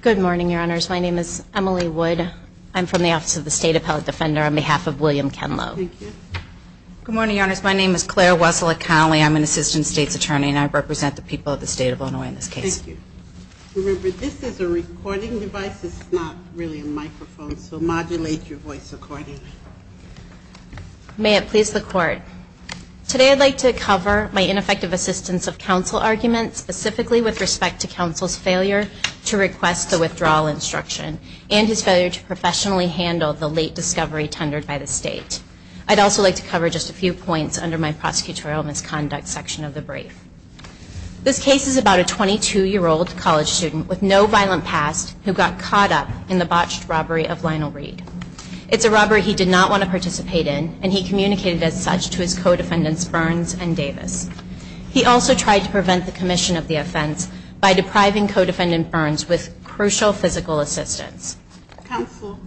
Good morning, Your Honors. My name is Emily Wood. I'm from the Office of the State Appellate Defender on behalf of William Kenlow. Good morning, Your Honors. My name is Claire Wessler Connelly. I'm an Assistant State's Attorney and I represent the people of the State of Illinois in this case. Thank you. Remember, this is a recording device. It's not really a microphone, so modulate your voice accordingly. May it please the Court, today I'd like to cover my ineffective assistance of counsel argument, specifically with respect to counsel's failure to request the withdrawal instruction and his failure to professionally handle the late discovery tendered by the State. I'd also like to cover just a few points under my prosecutorial misconduct section of the brief. This case is about a 22-year-old college student with no violent past who got caught up in the botched robbery of Lionel Reed. It's a robbery he did not want to participate in and he communicated as such to his co-defendants Burns and Davis. He also tried to prevent the commission of the offense by depriving co-defendant Burns with crucial physical assistance. Counsel,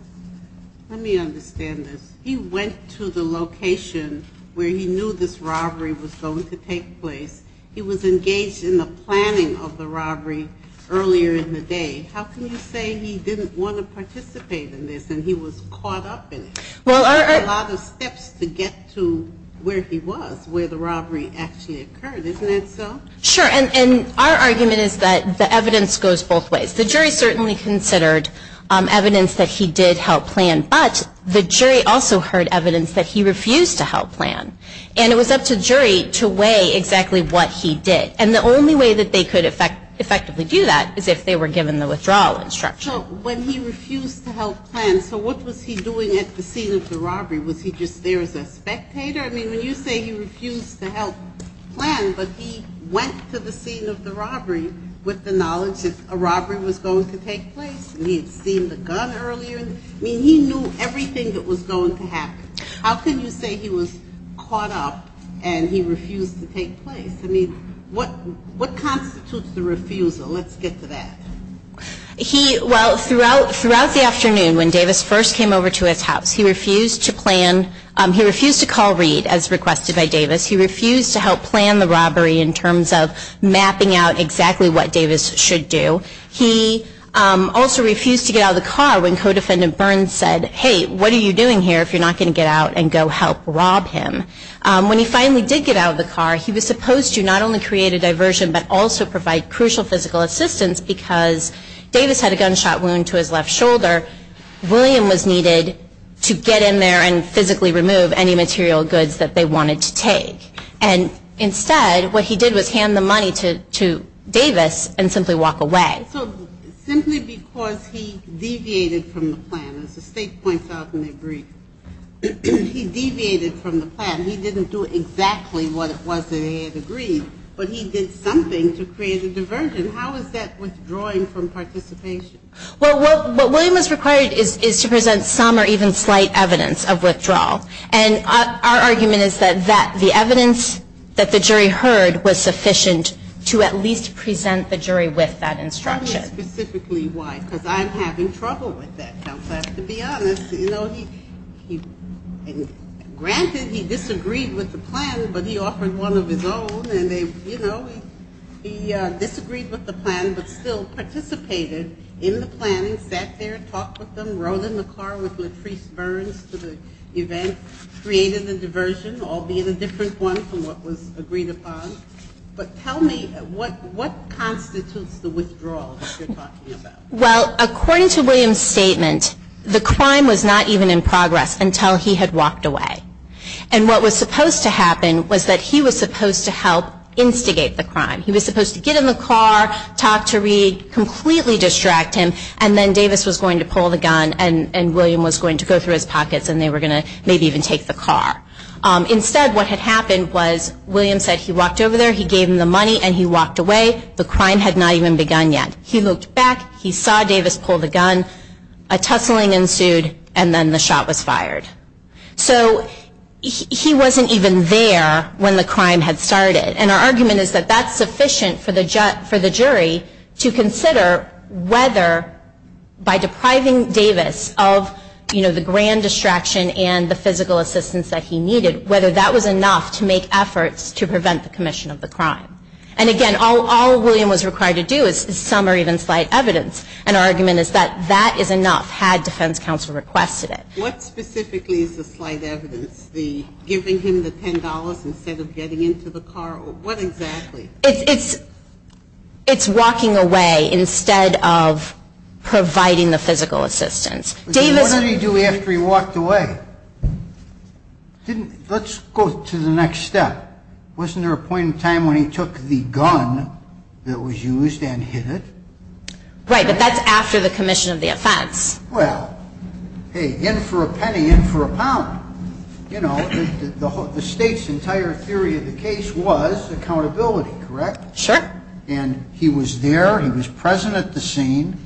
let me understand this. He went to the location where he knew this robbery was going to take place. He was engaged in the planning of the robbery earlier in the day. How can you say he didn't want to participate in this and he was caught up in it? There are a lot of steps to get to where he was, where the robbery actually occurred. Isn't that so? Sure. And our argument is that the evidence goes both ways. The jury certainly considered evidence that he did help plan, but the jury also heard evidence that he refused to help plan. And it was up to the jury to weigh exactly what he did. And the only way that they could effectively do that is if they were given the withdrawal instruction. So when he refused to help plan, so what was he doing at the scene of the robbery? Was he just there as a spectator? I mean, when you say he refused to help plan, but he went to the scene of the robbery with the knowledge that a robbery was going to take place and he had seen the gun earlier. I mean, he knew everything that was going to happen. How can you say he was caught up and he refused to take place? I mean, what constitutes the refusal? Let's get to that. Well, throughout the afternoon when Davis first came over to his house, he refused to call Reed as requested by Davis. He refused to help plan the robbery in terms of mapping out exactly what Davis should do. He also refused to get out of the car when Codefendant Burns said, hey, what are you doing here if you're not going to get out and go help rob him? When he finally did get out of the car, he was supposed to not only create a diversion, but also provide crucial physical assistance because Davis had a gunshot wound to his left shoulder. William was needed to get in there and physically remove any material goods that they wanted to take. And instead, what he did was hand the money to Davis and simply walk away. So simply because he deviated from the plan, as the state points out in their brief, he deviated from the plan. He didn't do exactly what it was that he had agreed, but he did something to create a diversion. How is that withdrawing from participation? Well, what William is required is to present some or even slight evidence of withdrawal. And our argument is that the evidence that the jury heard was sufficient to at least present the jury with that instruction. Tell me specifically why, because I'm having trouble with that, Counsel. I have to be honest. You know, granted, he disagreed with the instruction, but he did something to create a diversion. He disagreed with the plan, but he offered one of his own. And, you know, he disagreed with the plan, but still participated in the planning, sat there, talked with them, rode in the car with Latrice Burns to the event, created a diversion, all being a different one from what was agreed upon. But tell me, what constitutes the withdrawal that you're talking about? Well, according to William's statement, the crime was not even in progress until he had walked away. And what was supposed to happen was that he was supposed to help instigate the crime. He was supposed to get in the car, talk to Reed, completely distract him, and then Davis was going to pull the gun and William was going to go through his pockets and they were going to maybe even take the car. Instead, what had happened was William said he walked over there, he gave him the money, and he walked away. The crime had not even begun yet. He looked back, he saw Davis pull the gun, a tussling ensued, and then the shot was fired. So he wasn't even there when the crime had started. And our argument is that that's sufficient for the jury to consider whether by depriving Davis of the grand distraction and the physical assistance that he needed, whether that was enough to make efforts to prevent the commission of the crime. And again, all William was required to do is summarize even slight evidence. And our argument is that that is enough had defense counsel requested it. What specifically is the slight evidence? The giving him the $10 instead of getting into the car? What exactly? It's walking away instead of providing the physical assistance. What did he do after he walked away? Let's go to the next step. Wasn't there a point in time when he took the gun that was used and hit it? Right, but that's after the commission of the offense. Well, hey, in for a penny, in for a pound. You know, the state's entire theory of the case was accountability, correct? Sure. And he was there, he was present at the scene.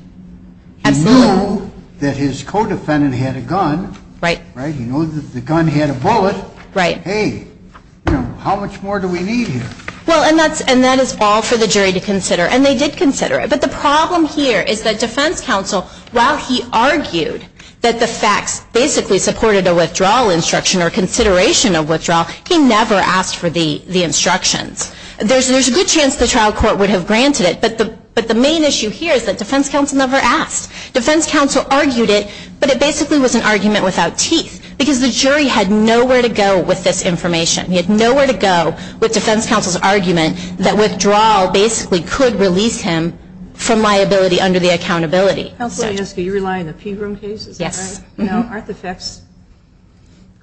He knew that his co-defendant had a gun. Right. He knew that the gun had a bullet. Right. Hey, how much more do we need here? Well, and that is all for the jury to consider. And they did consider it. But the problem here is that defense counsel, while he argued that the facts basically supported a withdrawal instruction or consideration of withdrawal, he never asked for the instructions. There's a good chance the trial court would have granted it, but the main issue here is that defense counsel never asked. Defense counsel argued it, but it basically was an argument without teeth, because the jury had nowhere to go with this information. He had nowhere to go with defense counsel's argument that withdrawal basically could release him from liability under the accountability. Counsel, do you rely on the Pegram case? Yes. Now, aren't the facts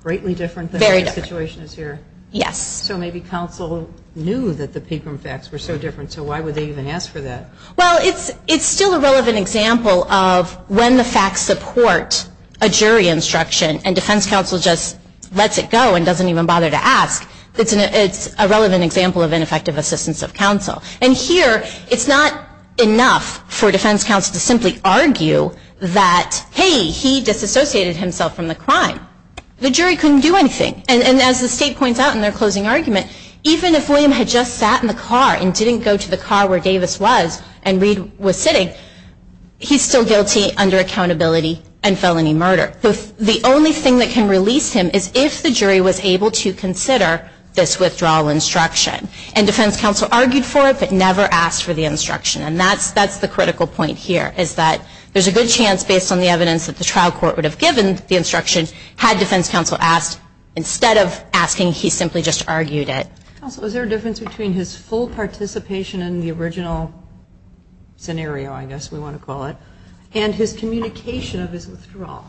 greatly different than what the situation is here? Yes. So maybe counsel knew that the Pegram facts were so different, so why would they even ask for that? Well, it's still a relevant example of when the facts support a jury instruction and defense counsel just lets it go and doesn't even bother to ask. It's a relevant example of ineffective assistance of counsel. And here, it's not enough for defense counsel to simply argue that, hey, he disassociated himself from the crime. The jury couldn't do anything. And as the state points out in their closing argument, even if William had just sat in the car and didn't go to the car where Davis was and Reed was sitting, he's still guilty under accountability and felony murder. The only thing that can release him is if the jury was able to consider this withdrawal instruction. And defense counsel argued for it, but never asked for the instruction. And that's the critical point here, is that there's a good chance, based on the evidence that the trial court would have given the instruction, had defense counsel asked instead of asking, he simply just argued it. Counsel, is there a difference between his full participation in the original scenario, I guess we want to call it, and his communication of his withdrawal?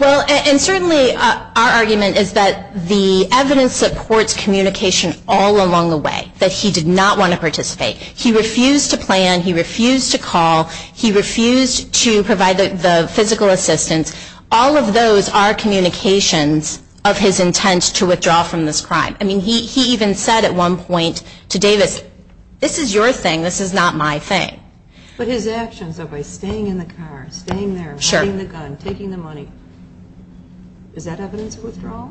Well, and certainly our argument is that the evidence supports communication all along the way, that he did not want to participate. He refused to plan, he refused to call, he refused to provide the physical assistance. All of those are communications of his intent to withdraw from this crime. I mean, he even said at one point to Davis, this is your thing, this is not my thing. But his actions, by staying in the car, staying there, hiding the gun, taking the money, is that evidence of withdrawal?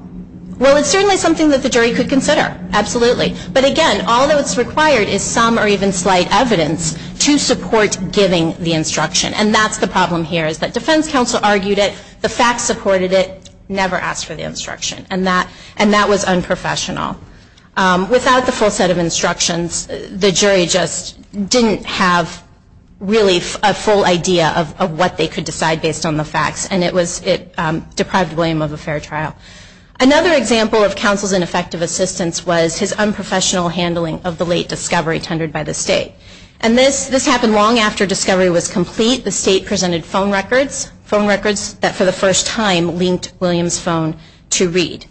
Well, it's certainly something that the jury could consider, absolutely. But again, all that's required is some or even slight evidence to support giving the instruction. And that's the problem here, is that defense counsel argued it, the facts supported it, never asked for the instruction. And that was unprofessional. Without the full set of instructions, the jury just didn't have really a full idea of what they could decide based on the facts. And it deprived William of a fair trial. Another example of counsel's ineffective assistance was his unprofessional handling of the late discovery tendered by the state. And this happened long after discovery was complete. The state presented phone records, phone records that for the first time linked William's phone to read.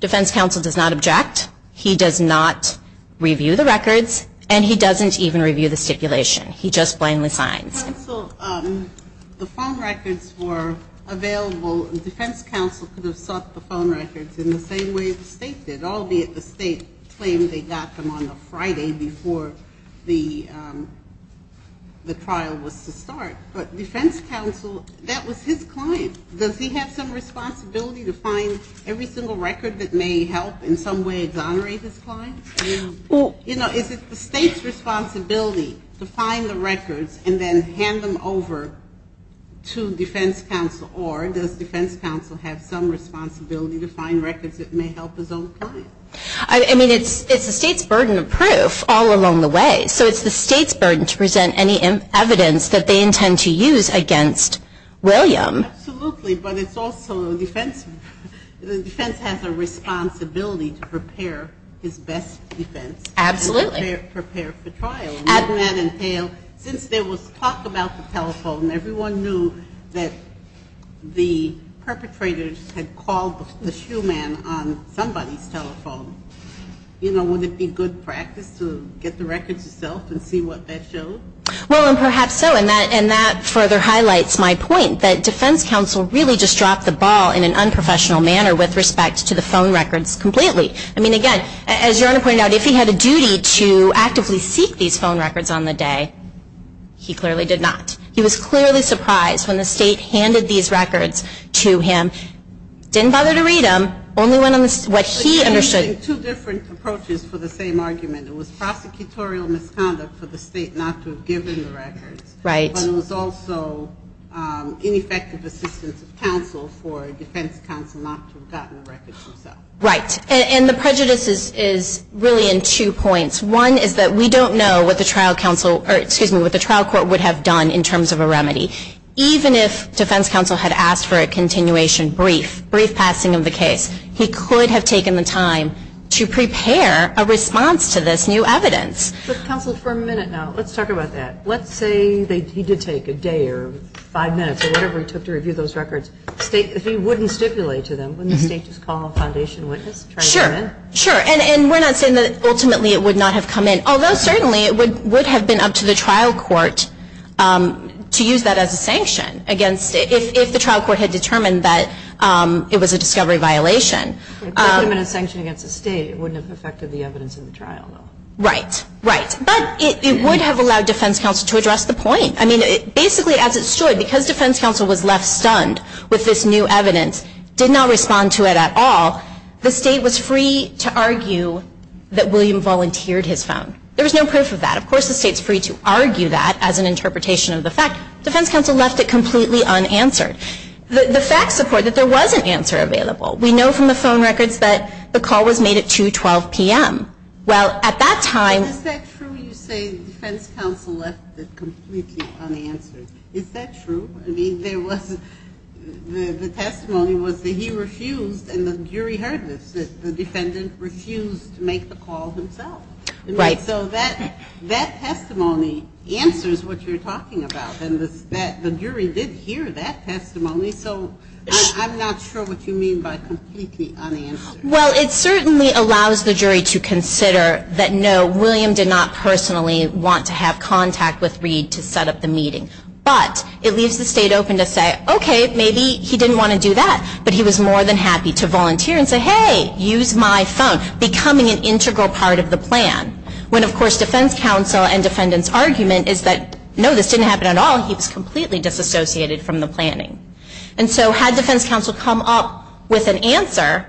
Defense counsel does not object, he does not review the records, and he doesn't even review the stipulation. He just blindly signs. The phone records were available, defense counsel could have sought the phone records in the same way the state did, albeit the state claimed they got them on a Friday before the trial was to start. But defense counsel, that was his client. Does he have some responsibility to find every single record that may help in some way exonerate his client? You know, is it the state's responsibility to find the records and then hand them over to defense counsel? Or does defense counsel have some responsibility to find records that may help his own client? I mean, it's the state's burden of proof all along the way. So it's the state's burden to present any evidence that they intend to use against William. Absolutely, but it's also defense, the defense has a responsibility to prepare his best defense. Absolutely. And prepare for trial. And wouldn't that entail, since there was talk about the telephone, everyone knew that the perpetrators had called the shoeman on somebody's telephone. You know, would it be good practice to get the records yourself and see what that showed? Well, and perhaps so, and that further highlights my point that defense counsel really just dropped the ball in an unprofessional manner with respect to the phone records completely. I mean, again, as your Honor pointed out, if he had a duty to actively seek these phone records on the day, he clearly did not. He was clearly surprised when the state handed these records to him. Didn't bother to read them, only went on what he understood. I think two different approaches for the same argument. It was prosecutorial misconduct for the state not to have given the records. But it was also ineffective assistance of counsel for defense counsel not to have gotten the records himself. Right. And the prejudice is really in two points. One is that we don't know what the trial court would have done in terms of a remedy. Even if defense counsel had asked for a continuation brief, brief passing of the case, he could have taken the time to prepare a response to this new evidence. But counsel, for a minute now, let's talk about that. Let's say he did take a day or five minutes or whatever it took to review those records. If he wouldn't stipulate to them, wouldn't the state just call a foundation witness? Sure. And we're not saying that ultimately it would not have come in. Although certainly it would have been up to the trial court to use that as a sanction. If the trial court had determined that it was a discovery violation. But it would have allowed defense counsel to address the point. I mean, basically as it stood, because defense counsel was left stunned with this new evidence, did not respond to it at all, the state was free to argue that William volunteered his phone. There was no proof of that. Of course the state is free to argue that as an interpretation of the fact. Defense counsel left it completely unanswered. The facts support that there was an answer available. We know from the phone records that the call was made at 212 p.m. Well, at that time. Is that true you say defense counsel left it completely unanswered? Is that true? I mean, the testimony was that he refused and the jury heard this. The defendant refused to make the call himself. So that testimony answers what you're talking about. And the jury did hear that testimony. So I'm not sure what you mean by completely unanswered. Well, it certainly allows the jury to consider that no, William did not personally want to have contact with Reed to set up the meeting. But it leaves the state open to say, okay, maybe he didn't want to do that. But he was more than happy to volunteer and say, hey, use my phone. Becoming an integral part of the plan. When, of course, defense counsel and defendant's argument is that no, this didn't happen at all. He was completely disassociated from the planning. And so had defense counsel come up with an answer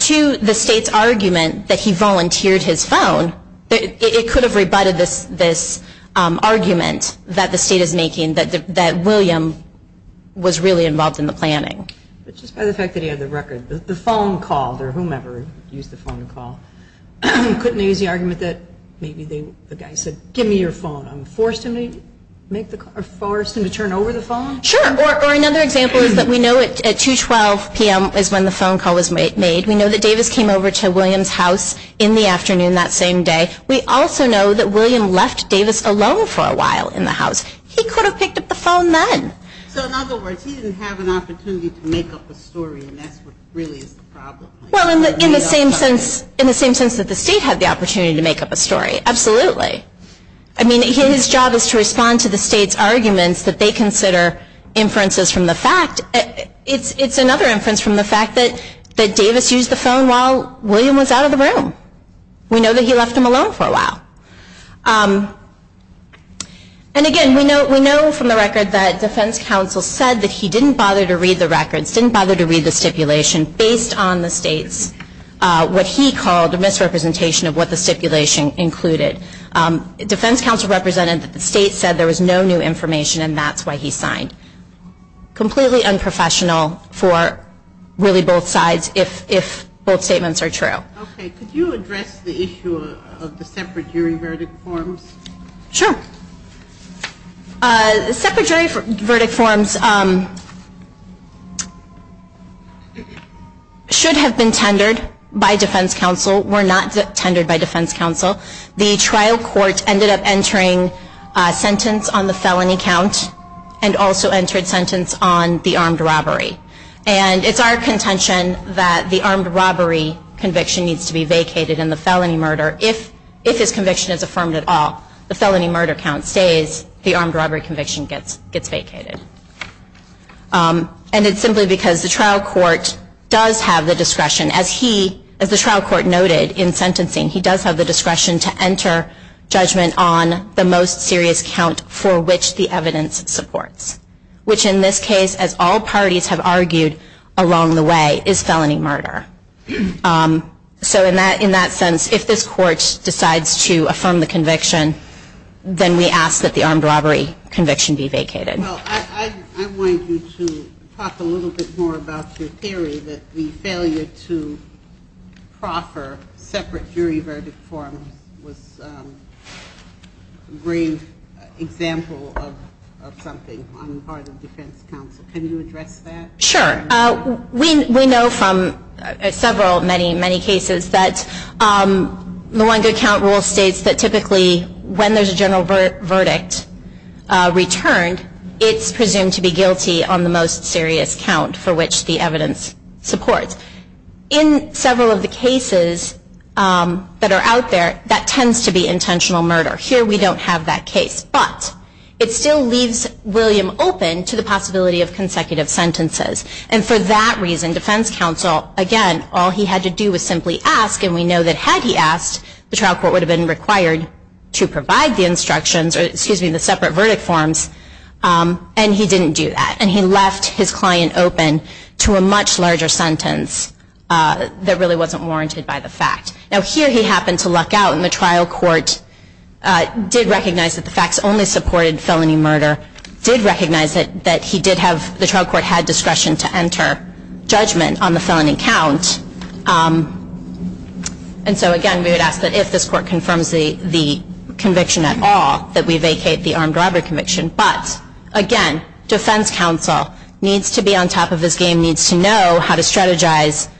to the state's argument that he volunteered his phone, it could have rebutted this argument that the state is making that William was really involved in the planning. But just by the fact that he had the record, the phone call or whomever used the phone call, couldn't he use the argument that maybe the guy said, give me your phone. Forced him to turn over the phone? Sure. Or another example is that we know at 212 p.m. is when the phone call was made. We know that Davis came over to William's house in the afternoon that same day. We also know that William left Davis alone for a while in the house. He could have picked up the phone then. In the same sense that the state had the opportunity to make up a story. Absolutely. I mean, his job is to respond to the state's arguments that they consider inferences from the fact. It's another inference from the fact that Davis used the phone while William was out of the room. We know that he left him alone for a while. And again, we know from the record that defense counsel said that he didn't bother to read the records, didn't bother to read the stipulation based on the state's, what he called a misrepresentation of what the stipulation included. Defense counsel represented that the state said there was no new information and that's why he signed. Completely unprofessional for really both sides if both statements are true. Could you address the issue of the separate jury verdict forms? Sure. Separate jury verdict forms should have been tendered by defense counsel, were not tendered by defense counsel. The trial court ended up entering a sentence on the felony count and also entered sentence on the armed robbery. And it's our contention that the armed robbery conviction needs to be vacated in the felony murder. If his conviction is affirmed at all, the felony murder count stays, the armed robbery conviction gets vacated. And it's simply because the trial court does have the discretion, as he, as the trial court noted in sentencing, he does have the discretion to enter judgment on the most serious count for which the evidence supports. Which in this case, as all parties have argued along the way, is felony murder. So in that sense, if this court decides to affirm the conviction, then we ask that the armed robbery conviction be vacated. Well, I want you to talk a little bit more about your theory that the failure to proffer separate jury verdict forms was a great example of something. Can you address that? Sure. We know from several, many, many cases that the one good count rule states that typically when there's a general verdict returned, it's presumed to be guilty on the most serious count for which the evidence supports. In several of the cases that are out there, that tends to be intentional murder. Here we don't have that case, but it still leaves William open to the possibility of consecutive sentences. And for that reason, defense counsel, again, all he had to do was simply ask, and we know that had he asked, the trial court would have been required to provide the instructions, or excuse me, the separate verdict forms, and he didn't do that. And he left his client open to a much larger sentence that really wasn't warranted by the fact. Now here he happened to luck out, and the trial court did recognize that the facts only supported felony murder, did recognize that he did have, the trial court had discretion to enter judgment on the felony count. And so again, we would ask that if this court confirms the conviction at all, that we vacate the armed robbery conviction. But, again, defense counsel needs to be on top of his game, needs to know how to strategize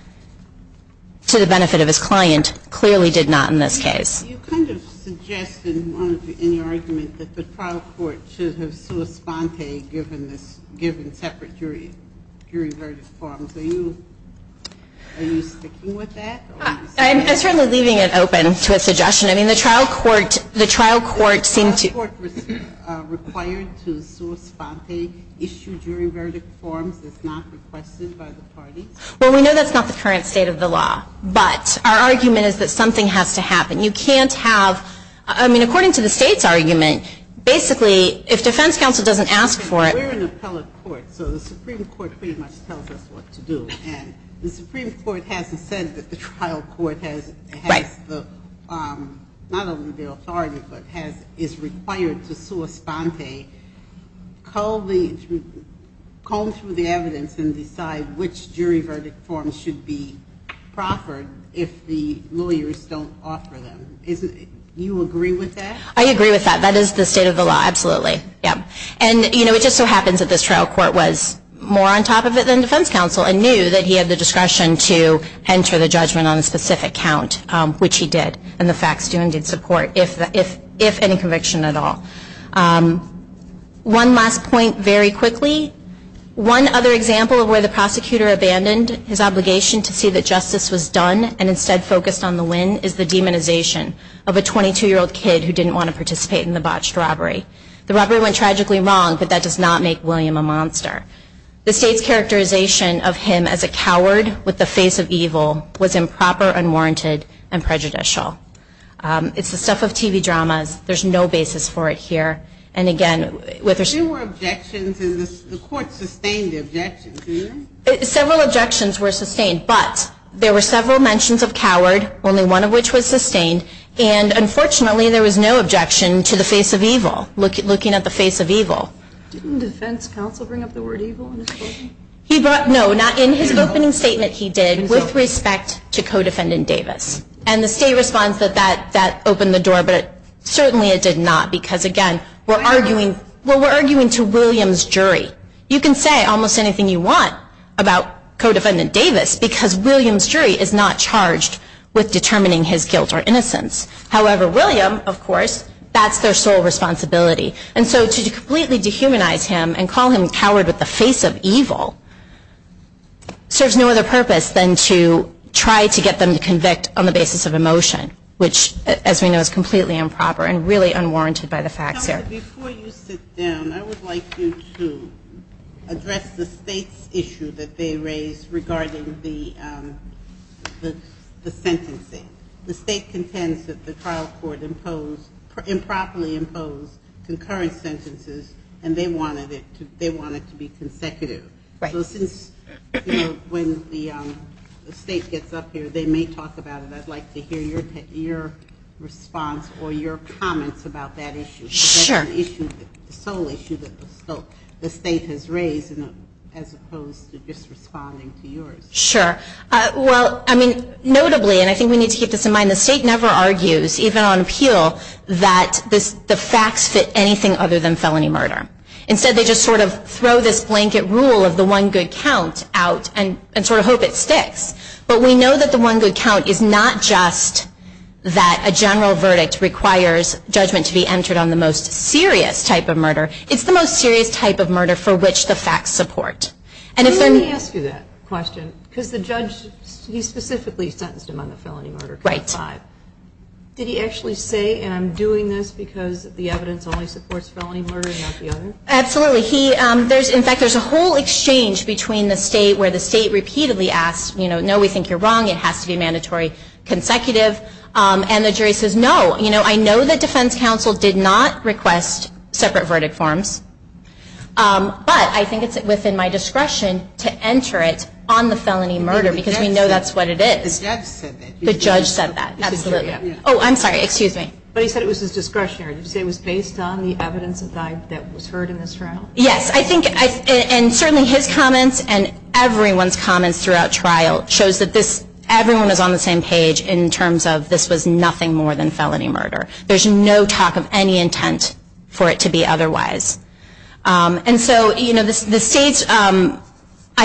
to the benefit of his client, and clearly did not in this case. You kind of suggested in your argument that the trial court should have sua sponte given separate jury verdict forms. Are you sticking with that? I'm certainly leaving it open to a suggestion. I mean, the trial court seemed to... The trial court was required to sua sponte issue jury verdict forms. It's not requested by the parties? Well, we know that's not the current state of the law. But our argument is that something has to happen. You can't have, I mean, according to the state's argument, basically, if defense counsel doesn't ask for it... We're an appellate court, so the Supreme Court pretty much tells us what to do. And the Supreme Court hasn't said that the trial court has the, not only the authority, but is required to sua sponte, comb through the evidence and decide which jury verdict forms should be proffered if the lawyers don't offer them. You agree with that? I agree with that. That is the state of the law. Absolutely. Yep. And, you know, it just so happens that this trial court was more on top of it than defense counsel and knew that he had the discretion to enter the judgment on a specific count, which he did. And the facts do indeed support, if any conviction at all. One last point very quickly. One other example of where the prosecutor abandoned his obligation to see that justice was done and instead focused on the win is the demonization of a 22-year-old kid who didn't want to participate in the botched robbery. The robbery went tragically wrong, but that does not make William a monster. The state's characterization of him as a coward with a face of evil was improper, unwarranted, and prejudicial. It's the stuff of TV dramas. There's no basis for it here. There were objections, and the court sustained the objections, didn't it? Several objections were sustained, but there were several mentions of coward, only one of which was sustained. And, unfortunately, there was no objection to the face of evil, looking at the face of evil. Didn't defense counsel bring up the word evil in his statement? No, not in his opening statement. He did with respect to co-defendant Davis. And the state responds that that opened the door, but certainly it did not because, again, we're arguing to William's jury. You can say almost anything you want about co-defendant Davis because William's jury is not charged with determining his guilt or innocence. However, William, of course, that's their sole responsibility. And so to completely dehumanize him and call him a coward with a face of evil serves no other purpose than to try to get them to convict on the basis of emotion, which, as we know, is completely improper and really unwarranted by the facts here. Before you sit down, I would like you to address the state's issue that they raised regarding the sentencing. The state contends that the trial court improperly imposed concurrent sentences, and they wanted it to be consecutive. So since, you know, when the state gets up here, they may talk about it, I'd like to hear your response or your comments about that issue. The sole issue that the state has raised, as opposed to just responding to yours. Sure. Well, I mean, notably, and I think we need to keep this in mind, the state never argues, even on appeal, that the facts fit anything other than felony murder. Instead, they just sort of throw this blanket rule of the one good count out and sort of hope it sticks. But we know that the one good count is not just that a general verdict requires judgment to be entered on the most serious type of murder. It's the most serious type of murder for which the facts support. Let me ask you that question, because the judge, he specifically sentenced him on the felony murder count of five. Did he actually say, and I'm doing this because the evidence only supports felony murder and not the other? Absolutely. In fact, there's a whole exchange between the state where the state repeatedly asks, no, we think you're wrong, it has to be mandatory consecutive. And the jury says, no, I know that defense counsel did not request separate verdict forms, but I think it's within my discretion to enter it on the felony murder, because we know that's what it is. The judge said that. Oh, I'm sorry, excuse me. But he said it was his discretionary. Did he say it was based on the evidence that was heard in this trial? Yes, I think, and certainly his comments and everyone's comments throughout trial shows that this, everyone is on the same page in terms of this was nothing more than felony murder. There's no talk of any intent for it to be otherwise. And so, you know, the state's, I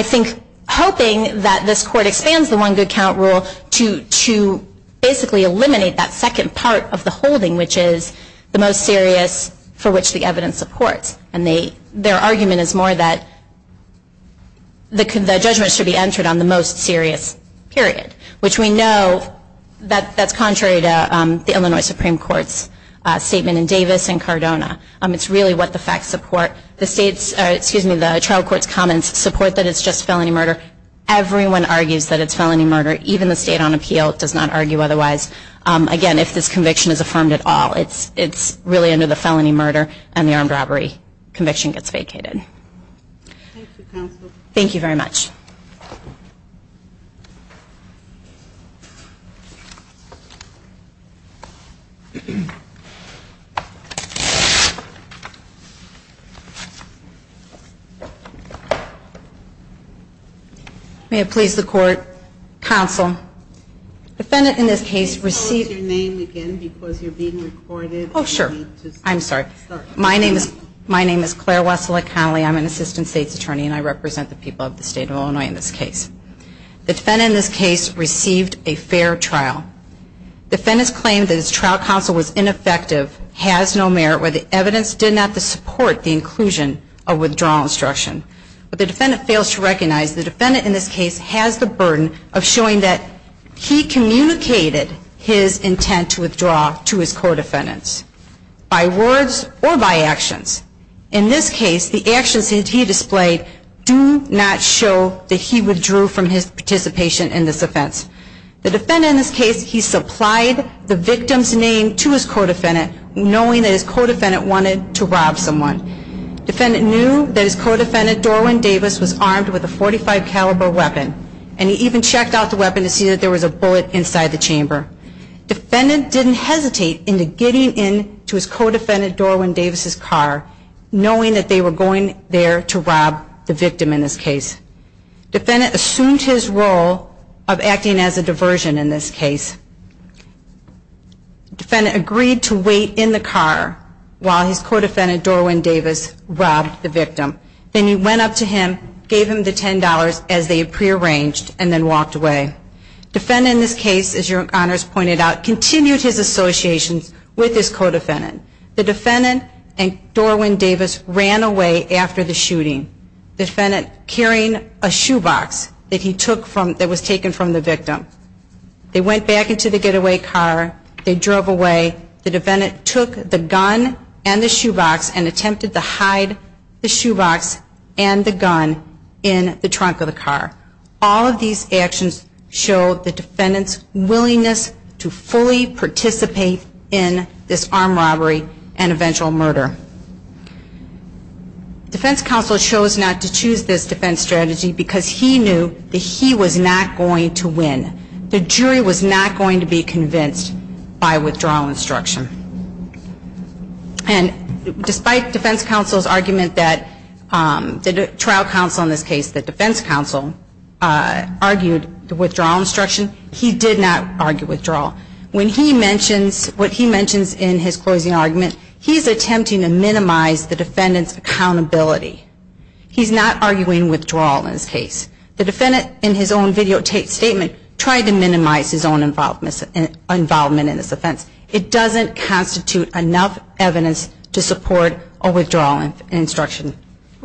think, hoping that this court expands the one good count rule to, basically, eliminate that second part of the holding, which is the most serious for which the evidence supports. And their argument is more that the judgment should be entered on the most serious period, which we know that that's contrary to the Illinois Supreme Court's statement in Davis and Cardona. It's really what the facts support. The state's, excuse me, the trial court's comments support that it's just felony murder. Everyone argues that it's felony murder. Even the state on appeal does not argue otherwise. Again, if this conviction is affirmed at all, it's really under the felony murder and the armed robbery conviction gets vacated. Thank you, counsel. Thank you very much. May it please the court. Counsel, defendant in this case received. Oh, sure. I'm sorry. My name is, my name is Claire Wessel-Connelly. I'm an assistant state's attorney and I represent the people of the state of Illinois in this case. The defendant in this case received a fair trial. Defendant's claim that his trial counsel was ineffective has no merit where the evidence did not support the inclusion of withdrawal instruction. But the defendant fails to recognize the defendant in this case has the burden of showing that he communicated his intent to withdraw to his co-defendants. By words or by actions. In this case, the actions that he displayed do not show that he withdrew from his participation in this offense. The defendant in this case, he supplied the victim's name to his co-defendant, knowing that his co-defendant wanted to rob someone. Defendant knew that his co-defendant, Dorwan Davis, was armed with a .45 caliber weapon. And he even checked out the weapon to see that there was a bullet inside the chamber. Defendant didn't hesitate into getting into his co-defendant, Dorwan Davis's car, knowing that they were going there to rob the victim in this case. Defendant assumed his role of acting as a diversion in this case. Defendant agreed to wait in the car while his co-defendant, Dorwan Davis, robbed the victim. Then he went up to him, gave him the $10 as they had prearranged, and then walked away. Defendant in this case, as your honors pointed out, continued his associations with his co-defendant. The defendant and Dorwan Davis ran away after the shooting. Defendant carrying a shoebox that he took from, that was taken from the victim. They went back into the getaway car, they drove away. The defendant took the gun and the shoebox and attempted to hide the shoebox and the gun in the trunk of the car. All of these actions show the defendant's willingness to fully participate in this armed robbery and eventual murder. Defense counsel chose not to choose this defense strategy because he knew that he was not going to win. The jury was not going to be convinced by withdrawal instruction. And despite defense counsel's argument that the trial counsel in this case, the defense counsel, argued the withdrawal instruction, he did not argue withdrawal. When he mentions, what he mentions in his closing argument, he's attempting to minimize the defendant's accountability. He's not arguing withdrawal in this case. The defendant in his own video statement tried to minimize his own involvement in this offense. It doesn't constitute enough evidence to support a withdrawal instruction.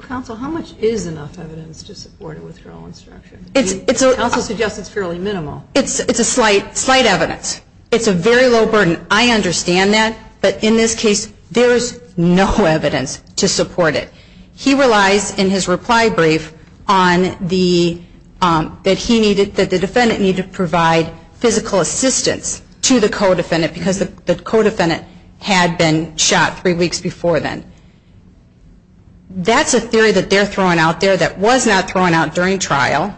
Counsel, how much is enough evidence to support a withdrawal instruction? Counsel suggests it's fairly minimal. It's a slight evidence. It's a very low burden. I understand that. But in this case, there's no evidence to support it. He relies in his reply brief on the, that he needed, that the defendant needed to provide physical assistance to the co-defendant. Because the co-defendant had been shot three weeks before then. That's a theory that they're throwing out there that was not thrown out during trial.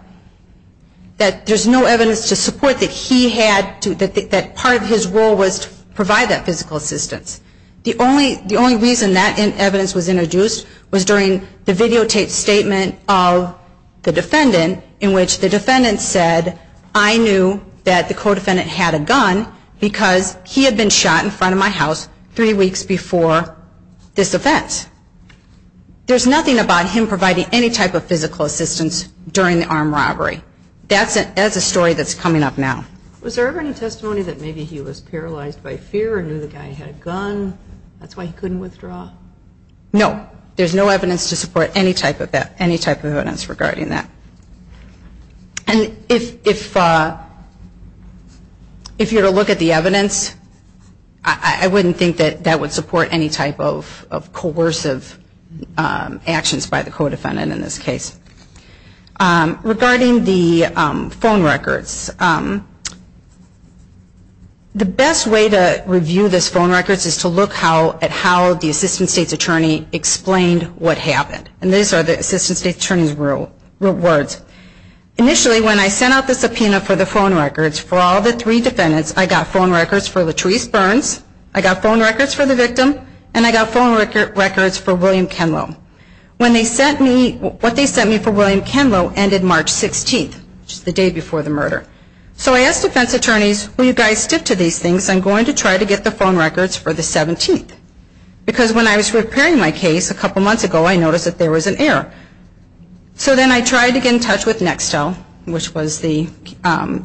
That there's no evidence to support that he had to, that part of his role was to provide that physical assistance. The only reason that evidence was introduced was during the videotaped statement of the defendant in which the defendant said, I knew that the co-defendant had a gun because he had been shot in front of my house three weeks before this offense. There's nothing about him providing any type of physical assistance during the armed robbery. That's a story that's coming up now. Was there ever any testimony that maybe he was paralyzed by fear or knew the guy had a gun, that's why he couldn't withdraw? No. There's no evidence to support any type of evidence regarding that. And if you were to look at the evidence, I wouldn't think that that would support any type of coercive actions by the co-defendant in this case. Regarding the phone records, the best way to review this phone records is to look at how the assistant state's attorney explained what happened. And these are the assistant state's attorney's words. Initially when I sent out the subpoena for the phone records for all the three defendants, I got phone records for Latrice Burns, I got phone records for William Kenlo. When they sent me, what they sent me for William Kenlo ended March 16th, the day before the murder. So I asked defense attorneys, will you guys stick to these things, I'm going to try to get the phone records for the 17th. Because when I was preparing my case a couple months ago, I noticed that there was an error. So then I tried to get in touch with Nextel, which was the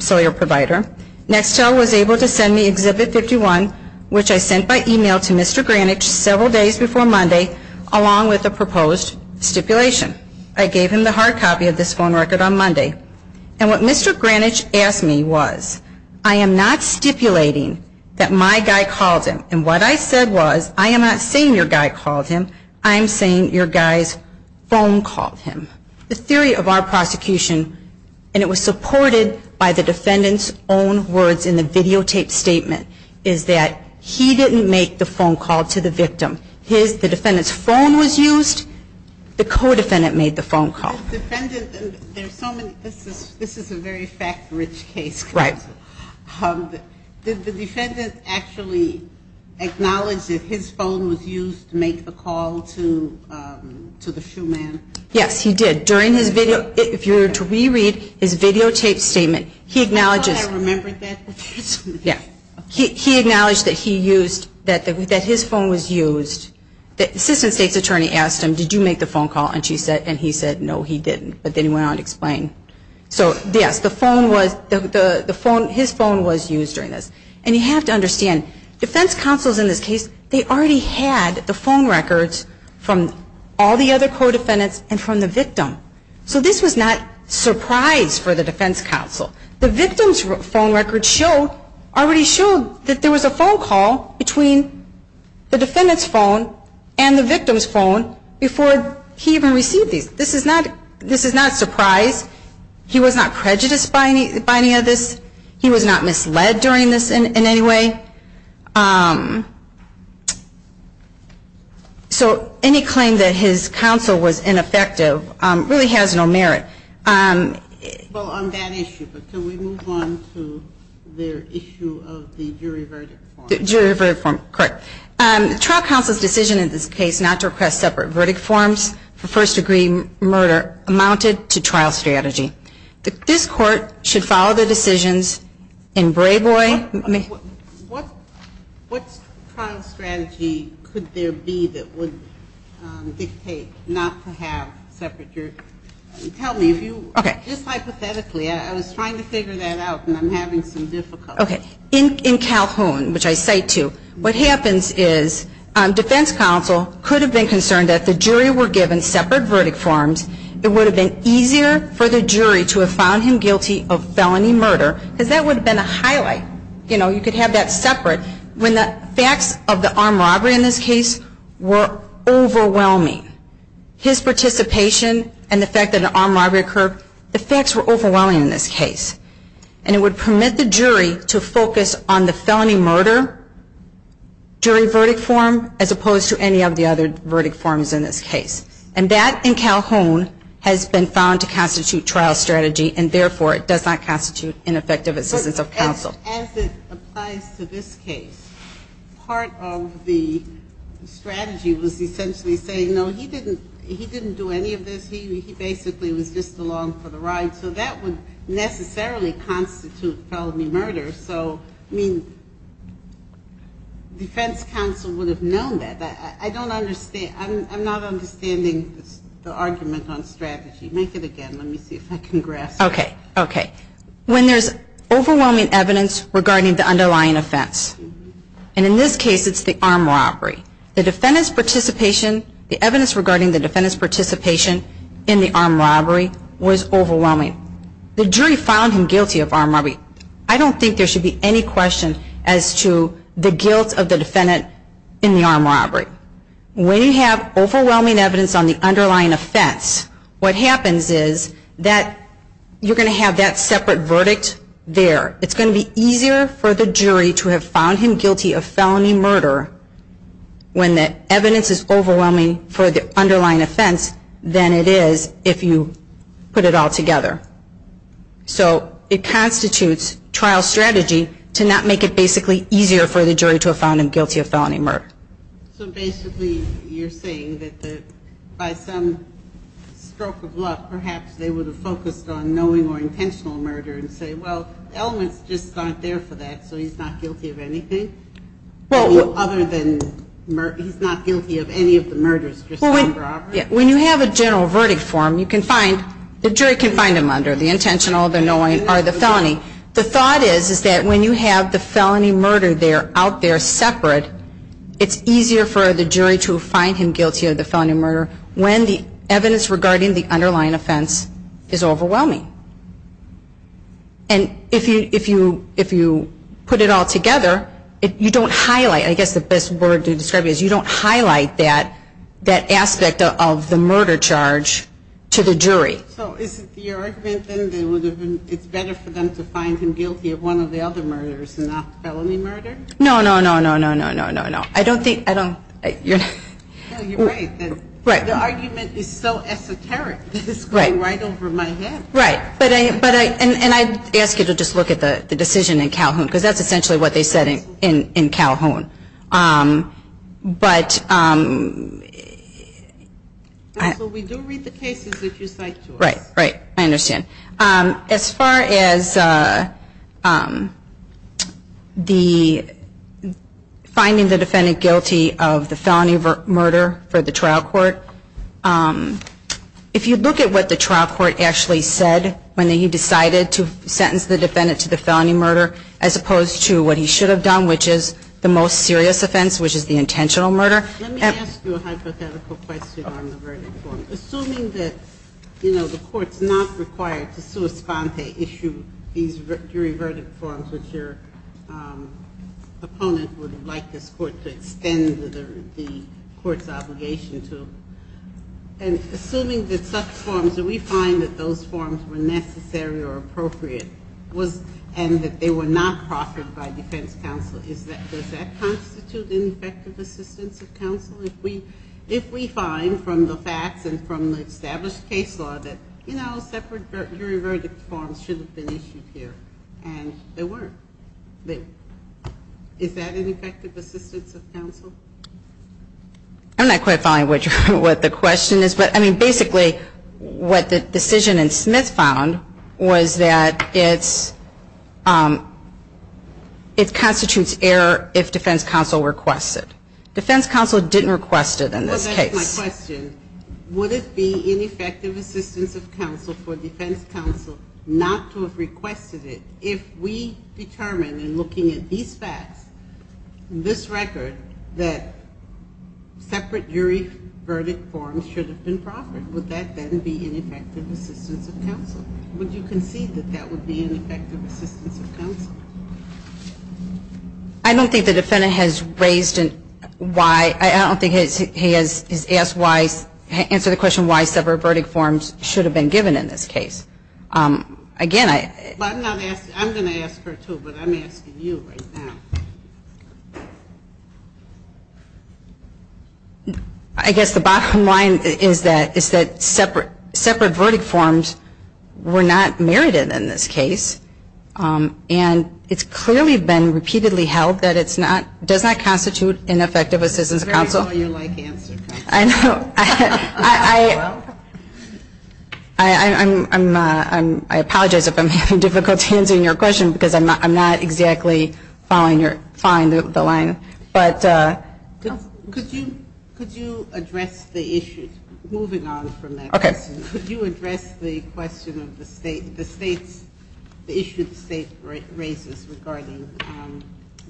cellular provider. Nextel was able to send me Exhibit 51, which I sent by e-mail to Mr. Granich several days before Monday, along with a proposed stipulation. I gave him the hard copy of this phone record on Monday. And what Mr. Granich asked me was, I am not stipulating that my guy called him. And what I said was, I am not saying your guy called him, I'm saying your guy's phone called him. The theory of our prosecution, and it was supported by the defendant's own words in the videotaped statement, is that he didn't make the phone call to the victim. The defendant's phone was used, the co-defendant made the phone call. This is a very fact-rich case. Did the defendant actually acknowledge that his phone was used to make the call to the shoeman? Yes, he did. If you were to reread his videotaped statement, he acknowledged that he used, that his phone was used. The assistant state's attorney asked him, did you make the phone call? And he said, no, he didn't. But then he went on to explain. So yes, the phone was, his phone was used during this. And you have to understand, defense counsels in this case, they already had the phone records from all the other co-defendants and from the victim. So this was not surprise for the defense counsel. The victim's phone record showed, already showed that there was a phone call between the victim and the shoeman. He was not surprised. He was not prejudiced by any of this. He was not misled during this in any way. So any claim that his counsel was ineffective really has no merit. Well, on that issue, but can we move on to their issue of the jury verdict form? Jury verdict form, correct. The trial counsel's decision in this case not to request separate verdict forms for first-degree murder is related to trial strategy. This Court should follow the decisions in Brayboy. What trial strategy could there be that would dictate not to have separate jury verdict forms? Tell me, just hypothetically, I was trying to figure that out and I'm having some difficulty. In Calhoun, which I cite to, what happens is defense counsel could have been concerned that the jury were given separate verdict forms. It would have been easier for the jury to have found him guilty of felony murder because that would have been a highlight. You know, you could have that separate when the facts of the armed robbery in this case were overwhelming. His participation and the fact that an armed robbery occurred, the facts were overwhelming in this case. And it would permit the jury to focus on the felony murder jury verdict form as opposed to any of the other verdict forms in this case. And that, in Calhoun, has been found to constitute trial strategy and, therefore, it does not constitute ineffective assistance of counsel. As it applies to this case, part of the strategy was essentially saying, no, he didn't do any of this. He basically was just along for the ride. So that would necessarily constitute felony murder. So, I mean, defense counsel would have known that. I don't understand. I'm not understanding the argument on strategy. Make it again. Let me see if I can grasp it. Okay. Okay. When there's overwhelming evidence regarding the underlying offense, and in this case it's the armed robbery, the defendant's participation, the evidence regarding the defendant's participation in the armed robbery was overwhelming. The jury found him guilty of armed robbery. I don't think there should be any question as to the guilt of the defendant in the armed robbery. When you have overwhelming evidence on the underlying offense, what happens is that you're going to have that separate verdict there. It's going to be easier for the jury to have found him guilty of felony murder when the evidence is overwhelming for the underlying offense than it is if you put it all together. So it constitutes trial strategy to not make it basically easier for the jury to have found him guilty of felony murder. So basically you're saying that by some stroke of luck, perhaps they would have focused on knowing or intentional murder and say, well, elements just aren't there for that, so he's not guilty of anything other than he's not guilty of any of the murders. When you have a general verdict form, you can find, the jury can find him under the intentional, the knowing, or the felony. The thought is that when you have the felony murder there out there separate, it's easier for the jury to find him guilty of the felony murder when the evidence regarding the underlying offense is overwhelming. And if you put it all together, you don't highlight, I guess the best word to describe it is you don't highlight that aspect of the murder charge to the jury. So is it the argument then that it's better for them to find him guilty of one of the other murders and not felony murder? No, no, no, no, no, no, no, no. I don't think, I don't, you're right. The argument is so esoteric that it's going right over my head. Right, but I, and I ask you to just look at the decision in Calhoun, because that's essentially what they said in Calhoun. But I. So we do read the cases that you cite to us. Right, right, I understand. As far as the, finding the defendant guilty of the felony murder for the trial court, if you look at what the trial court actually said when he decided to sentence the defendant to the felony murder, as opposed to what he should have done, which is the most important thing. I think that's a serious offense, which is the intentional murder. Let me ask you a hypothetical question on the verdict form. Assuming that, you know, the court's not required to sua sponte issue these jury verdict forms, which your opponent would like this court to extend the court's obligation to, and assuming that such forms, that we find that those forms were necessary or appropriate, and that they were not proffered by defense counsel, is that, does that constitute a serious offense? Is that an effective assistance of counsel if we find from the facts and from the established case law that, you know, separate jury verdict forms should have been issued here, and they weren't? Is that an effective assistance of counsel? I'm not quite following what the question is, but, I mean, basically, what the decision in Smith found was that it's, it constitutes error if defense counsel is not required to issue jury verdict forms. And that's what defense counsel requested. Defense counsel didn't request it in this case. Well, that's my question. Would it be an effective assistance of counsel for defense counsel not to have requested it if we determined, in looking at these facts, this record, that separate jury verdict forms should have been proffered? Would that then be an effective assistance of counsel? Would you concede that that would be an effective assistance of counsel? I don't think the defendant has raised why, I don't think he has asked why, answered the question why separate verdict forms should have been given in this case. Again, I But I'm not asking, I'm going to ask her too, but I'm asking you right now. I guess the bottom line is that, is that separate, separate verdict forms were not merited in this case. And it's clearly been repeatedly held that it's not, does not constitute an effective assistance of counsel. It's a very lawyer-like answer. I apologize if I'm having difficulty answering your question because I'm not exactly following the line. Could you address the issue, moving on from that question, could you address the question of the state's behavior. The state's behavior in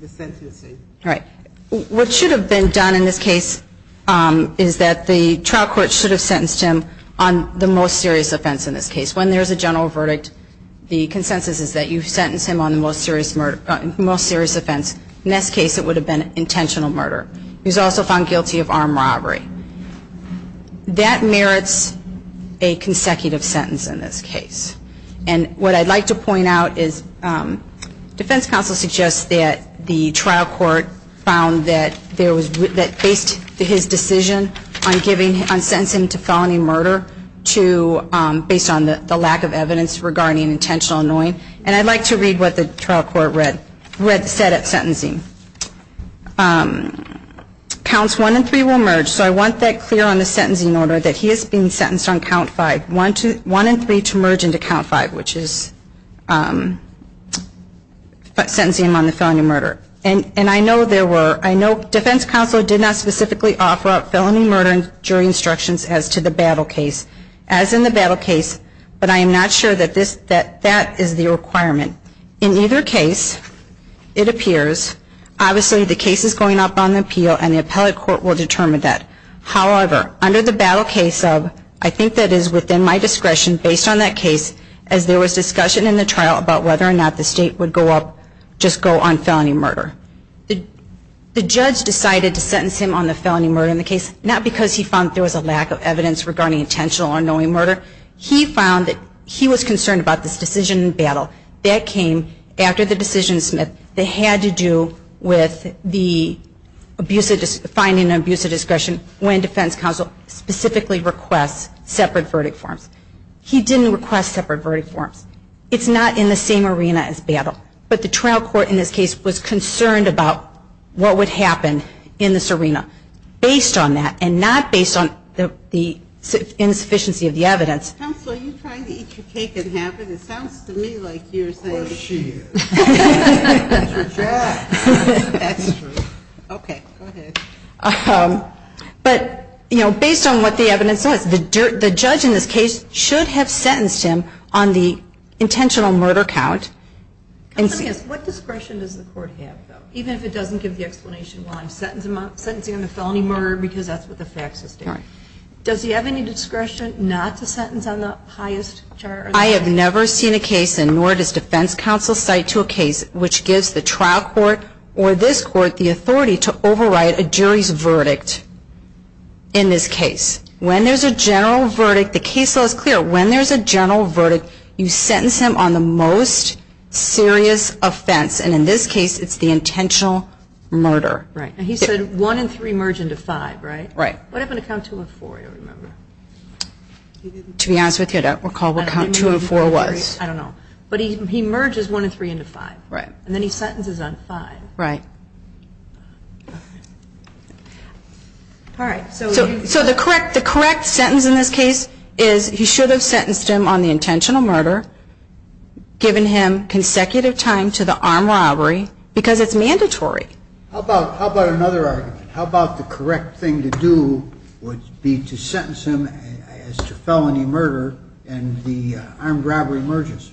this case. What should have been done in this case is that the trial court should have sentenced him on the most serious offense in this case. When there's a general verdict, the consensus is that you sentence him on the most serious offense. In this case, it would have been intentional murder. He was also found guilty of armed robbery. That merits a consecutive sentence in this case. And what I'd like to point out is defense counsel suggests that the trial court found that there was, that based his decision on giving, on sentencing him to felony murder to, based on the lack of evidence regarding intentional annoying. And I'd like to read what the trial court read, read, said at sentencing. Counts one and three will merge. So I want that clear on the sentencing order that he is being sentenced on count five. One and three to merge into count five, which is sentencing him on the felony murder. And I know there were, I know defense counsel did not specifically offer up felony murder during instructions as to the battle case. As in the battle case, but I am not sure that this, that that is the requirement. In either case, it appears, obviously the case is going up on the appeal and the appellate court will determine that. However, under the battle case of, I think that is within my discretion, based on that case, as there was discussion in the trial about whether or not the state would go up, just go on felony murder. The judge decided to sentence him on the felony murder in the case, not because he found there was a lack of evidence regarding intentional annoying murder, he found that he was concerned about this decision in battle. That came after the decision, Smith, that had to do with the finding of an abuse of discretion when defense counsel specifically requests separate verdict forms. He didn't request separate verdict forms. It's not in the same arena as battle, but the trial court in this case was concerned about what would happen in this arena. The judge decided to sentence him on the intentional murder count. I'm going to ask, what discretion does the court have, though? Even if it doesn't give the explanation why I'm sentencing him on the felony murder, because that's what the facts are stating. Does he have any discretion not to sentence him on the intentional murder count? I have never seen a case, and nor does defense counsel cite to a case, which gives the trial court or this court the authority to override a jury's verdict in this case. When there's a general verdict, the case law is clear. When there's a general verdict, you sentence him on the most serious offense. And in this case, it's the intentional murder. And he said one and three merge into five, right? What happened to count two and four? To be honest with you, I don't recall what count two and four was. I don't know. But he merges one and three into five, and then he sentences on five. Right. So the correct sentence in this case is he should have sentenced him on the intentional murder, given him consecutive time to the armed robbery, because it's mandatory. How about another argument? How about the correct thing to do would be to sentence him as to felony murder, and the armed robbery merges?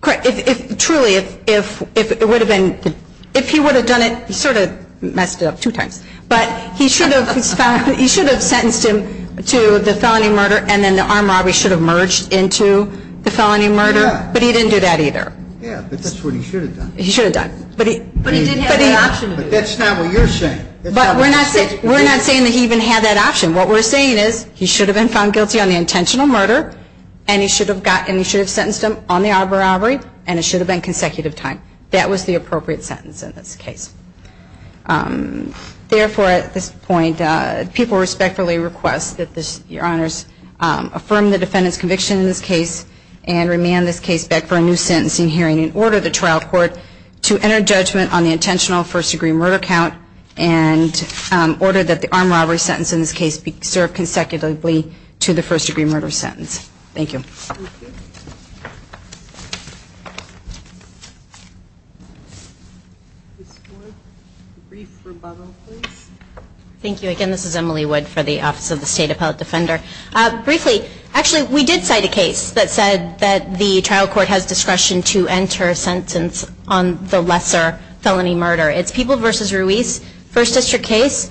Correct. If truly, if it would have been, if he would have done it, he sort of messed it up two times. But he should have sentenced him to the felony murder, and then the armed robbery should have merged into the felony murder. But he didn't do that either. Yeah, but that's what he should have done. But he did have the option to do it. But that's not what you're saying. But we're not saying that he even had that option. What we're saying is he should have been found guilty on the intentional murder, and he should have sentenced him on the armed robbery, and it should have been consecutive time. That was the appropriate sentence in this case. Therefore, at this point, people respectfully request that Your Honors affirm the defendant's conviction in this case, and remand this case back for a new sentencing hearing, and order the trial court to enter judgment on the intentional first degree murder count, and order that the armed robbery sentence in this case be served consecutively to the first degree murder sentence. Thank you. A brief rebuttal, please. Thank you. Again, this is Emily Wood for the Office of the State Appellate Defender. Briefly, actually, we did cite a case that said that the trial court has discretion to enter a sentence on the lesser felony murder. It's People v. Ruiz, first district case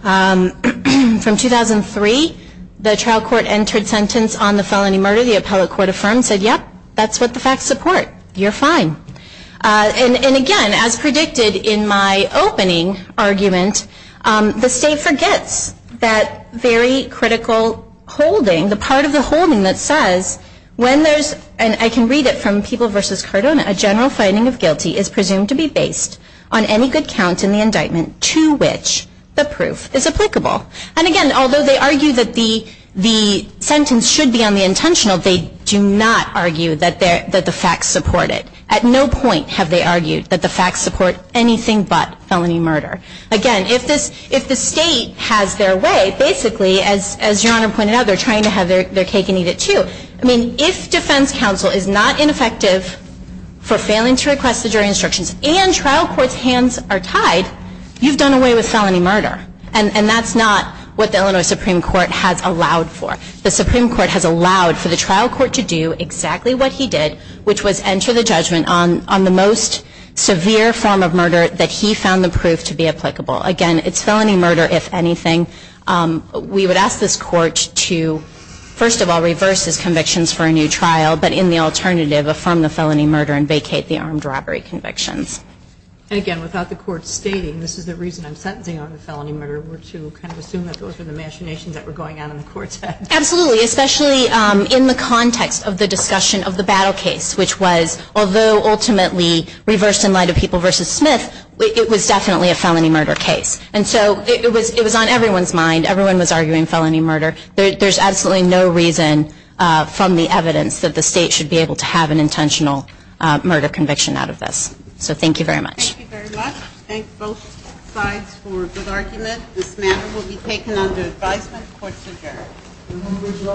from 2003. The trial court entered sentence on the felony murder. The appellate court affirmed, said, yep, that's what the facts support. You're fine. And again, as predicted in my opening argument, the state forgets that very critical holding, the part of the holding that says, when there's, and I can read it from People v. Cardona, a general finding of guilty is presumed to be based on any good count in the indictment to which the proof is applicable. So if the state says that the sentence should be on the intentional, they do not argue that the facts support it. At no point have they argued that the facts support anything but felony murder. Again, if the state has their way, basically, as Your Honor pointed out, they're trying to have their cake and eat it, too. I mean, if defense counsel is not ineffective for failing to request the jury instructions and trial court's hands are tied, you've done away with felony murder. And that's not what the Illinois Supreme Court has allowed for. The Supreme Court has allowed for the trial court to do exactly what he did, which was enter the judgment on the most severe form of murder that he found the proof to be applicable. Again, it's felony murder, if anything. We would ask this court to, first of all, reverse his convictions for a new trial, but in the alternative, affirm the felony murder and vacate the armed robbery convictions. And again, without the court stating, this is the reason I'm sentencing on the felony murder, we're to kind of assume that those are the machinations that were going on in the court's head. Absolutely, especially in the context of the discussion of the battle case, which was, although ultimately reversed in light of People v. Smith, it was definitely a felony murder case. And so it was on everyone's mind. Everyone was arguing felony murder. There's absolutely no reason from the evidence that the state should be able to have an intentional murder conviction out of this. So thank you very much. Thank you very much.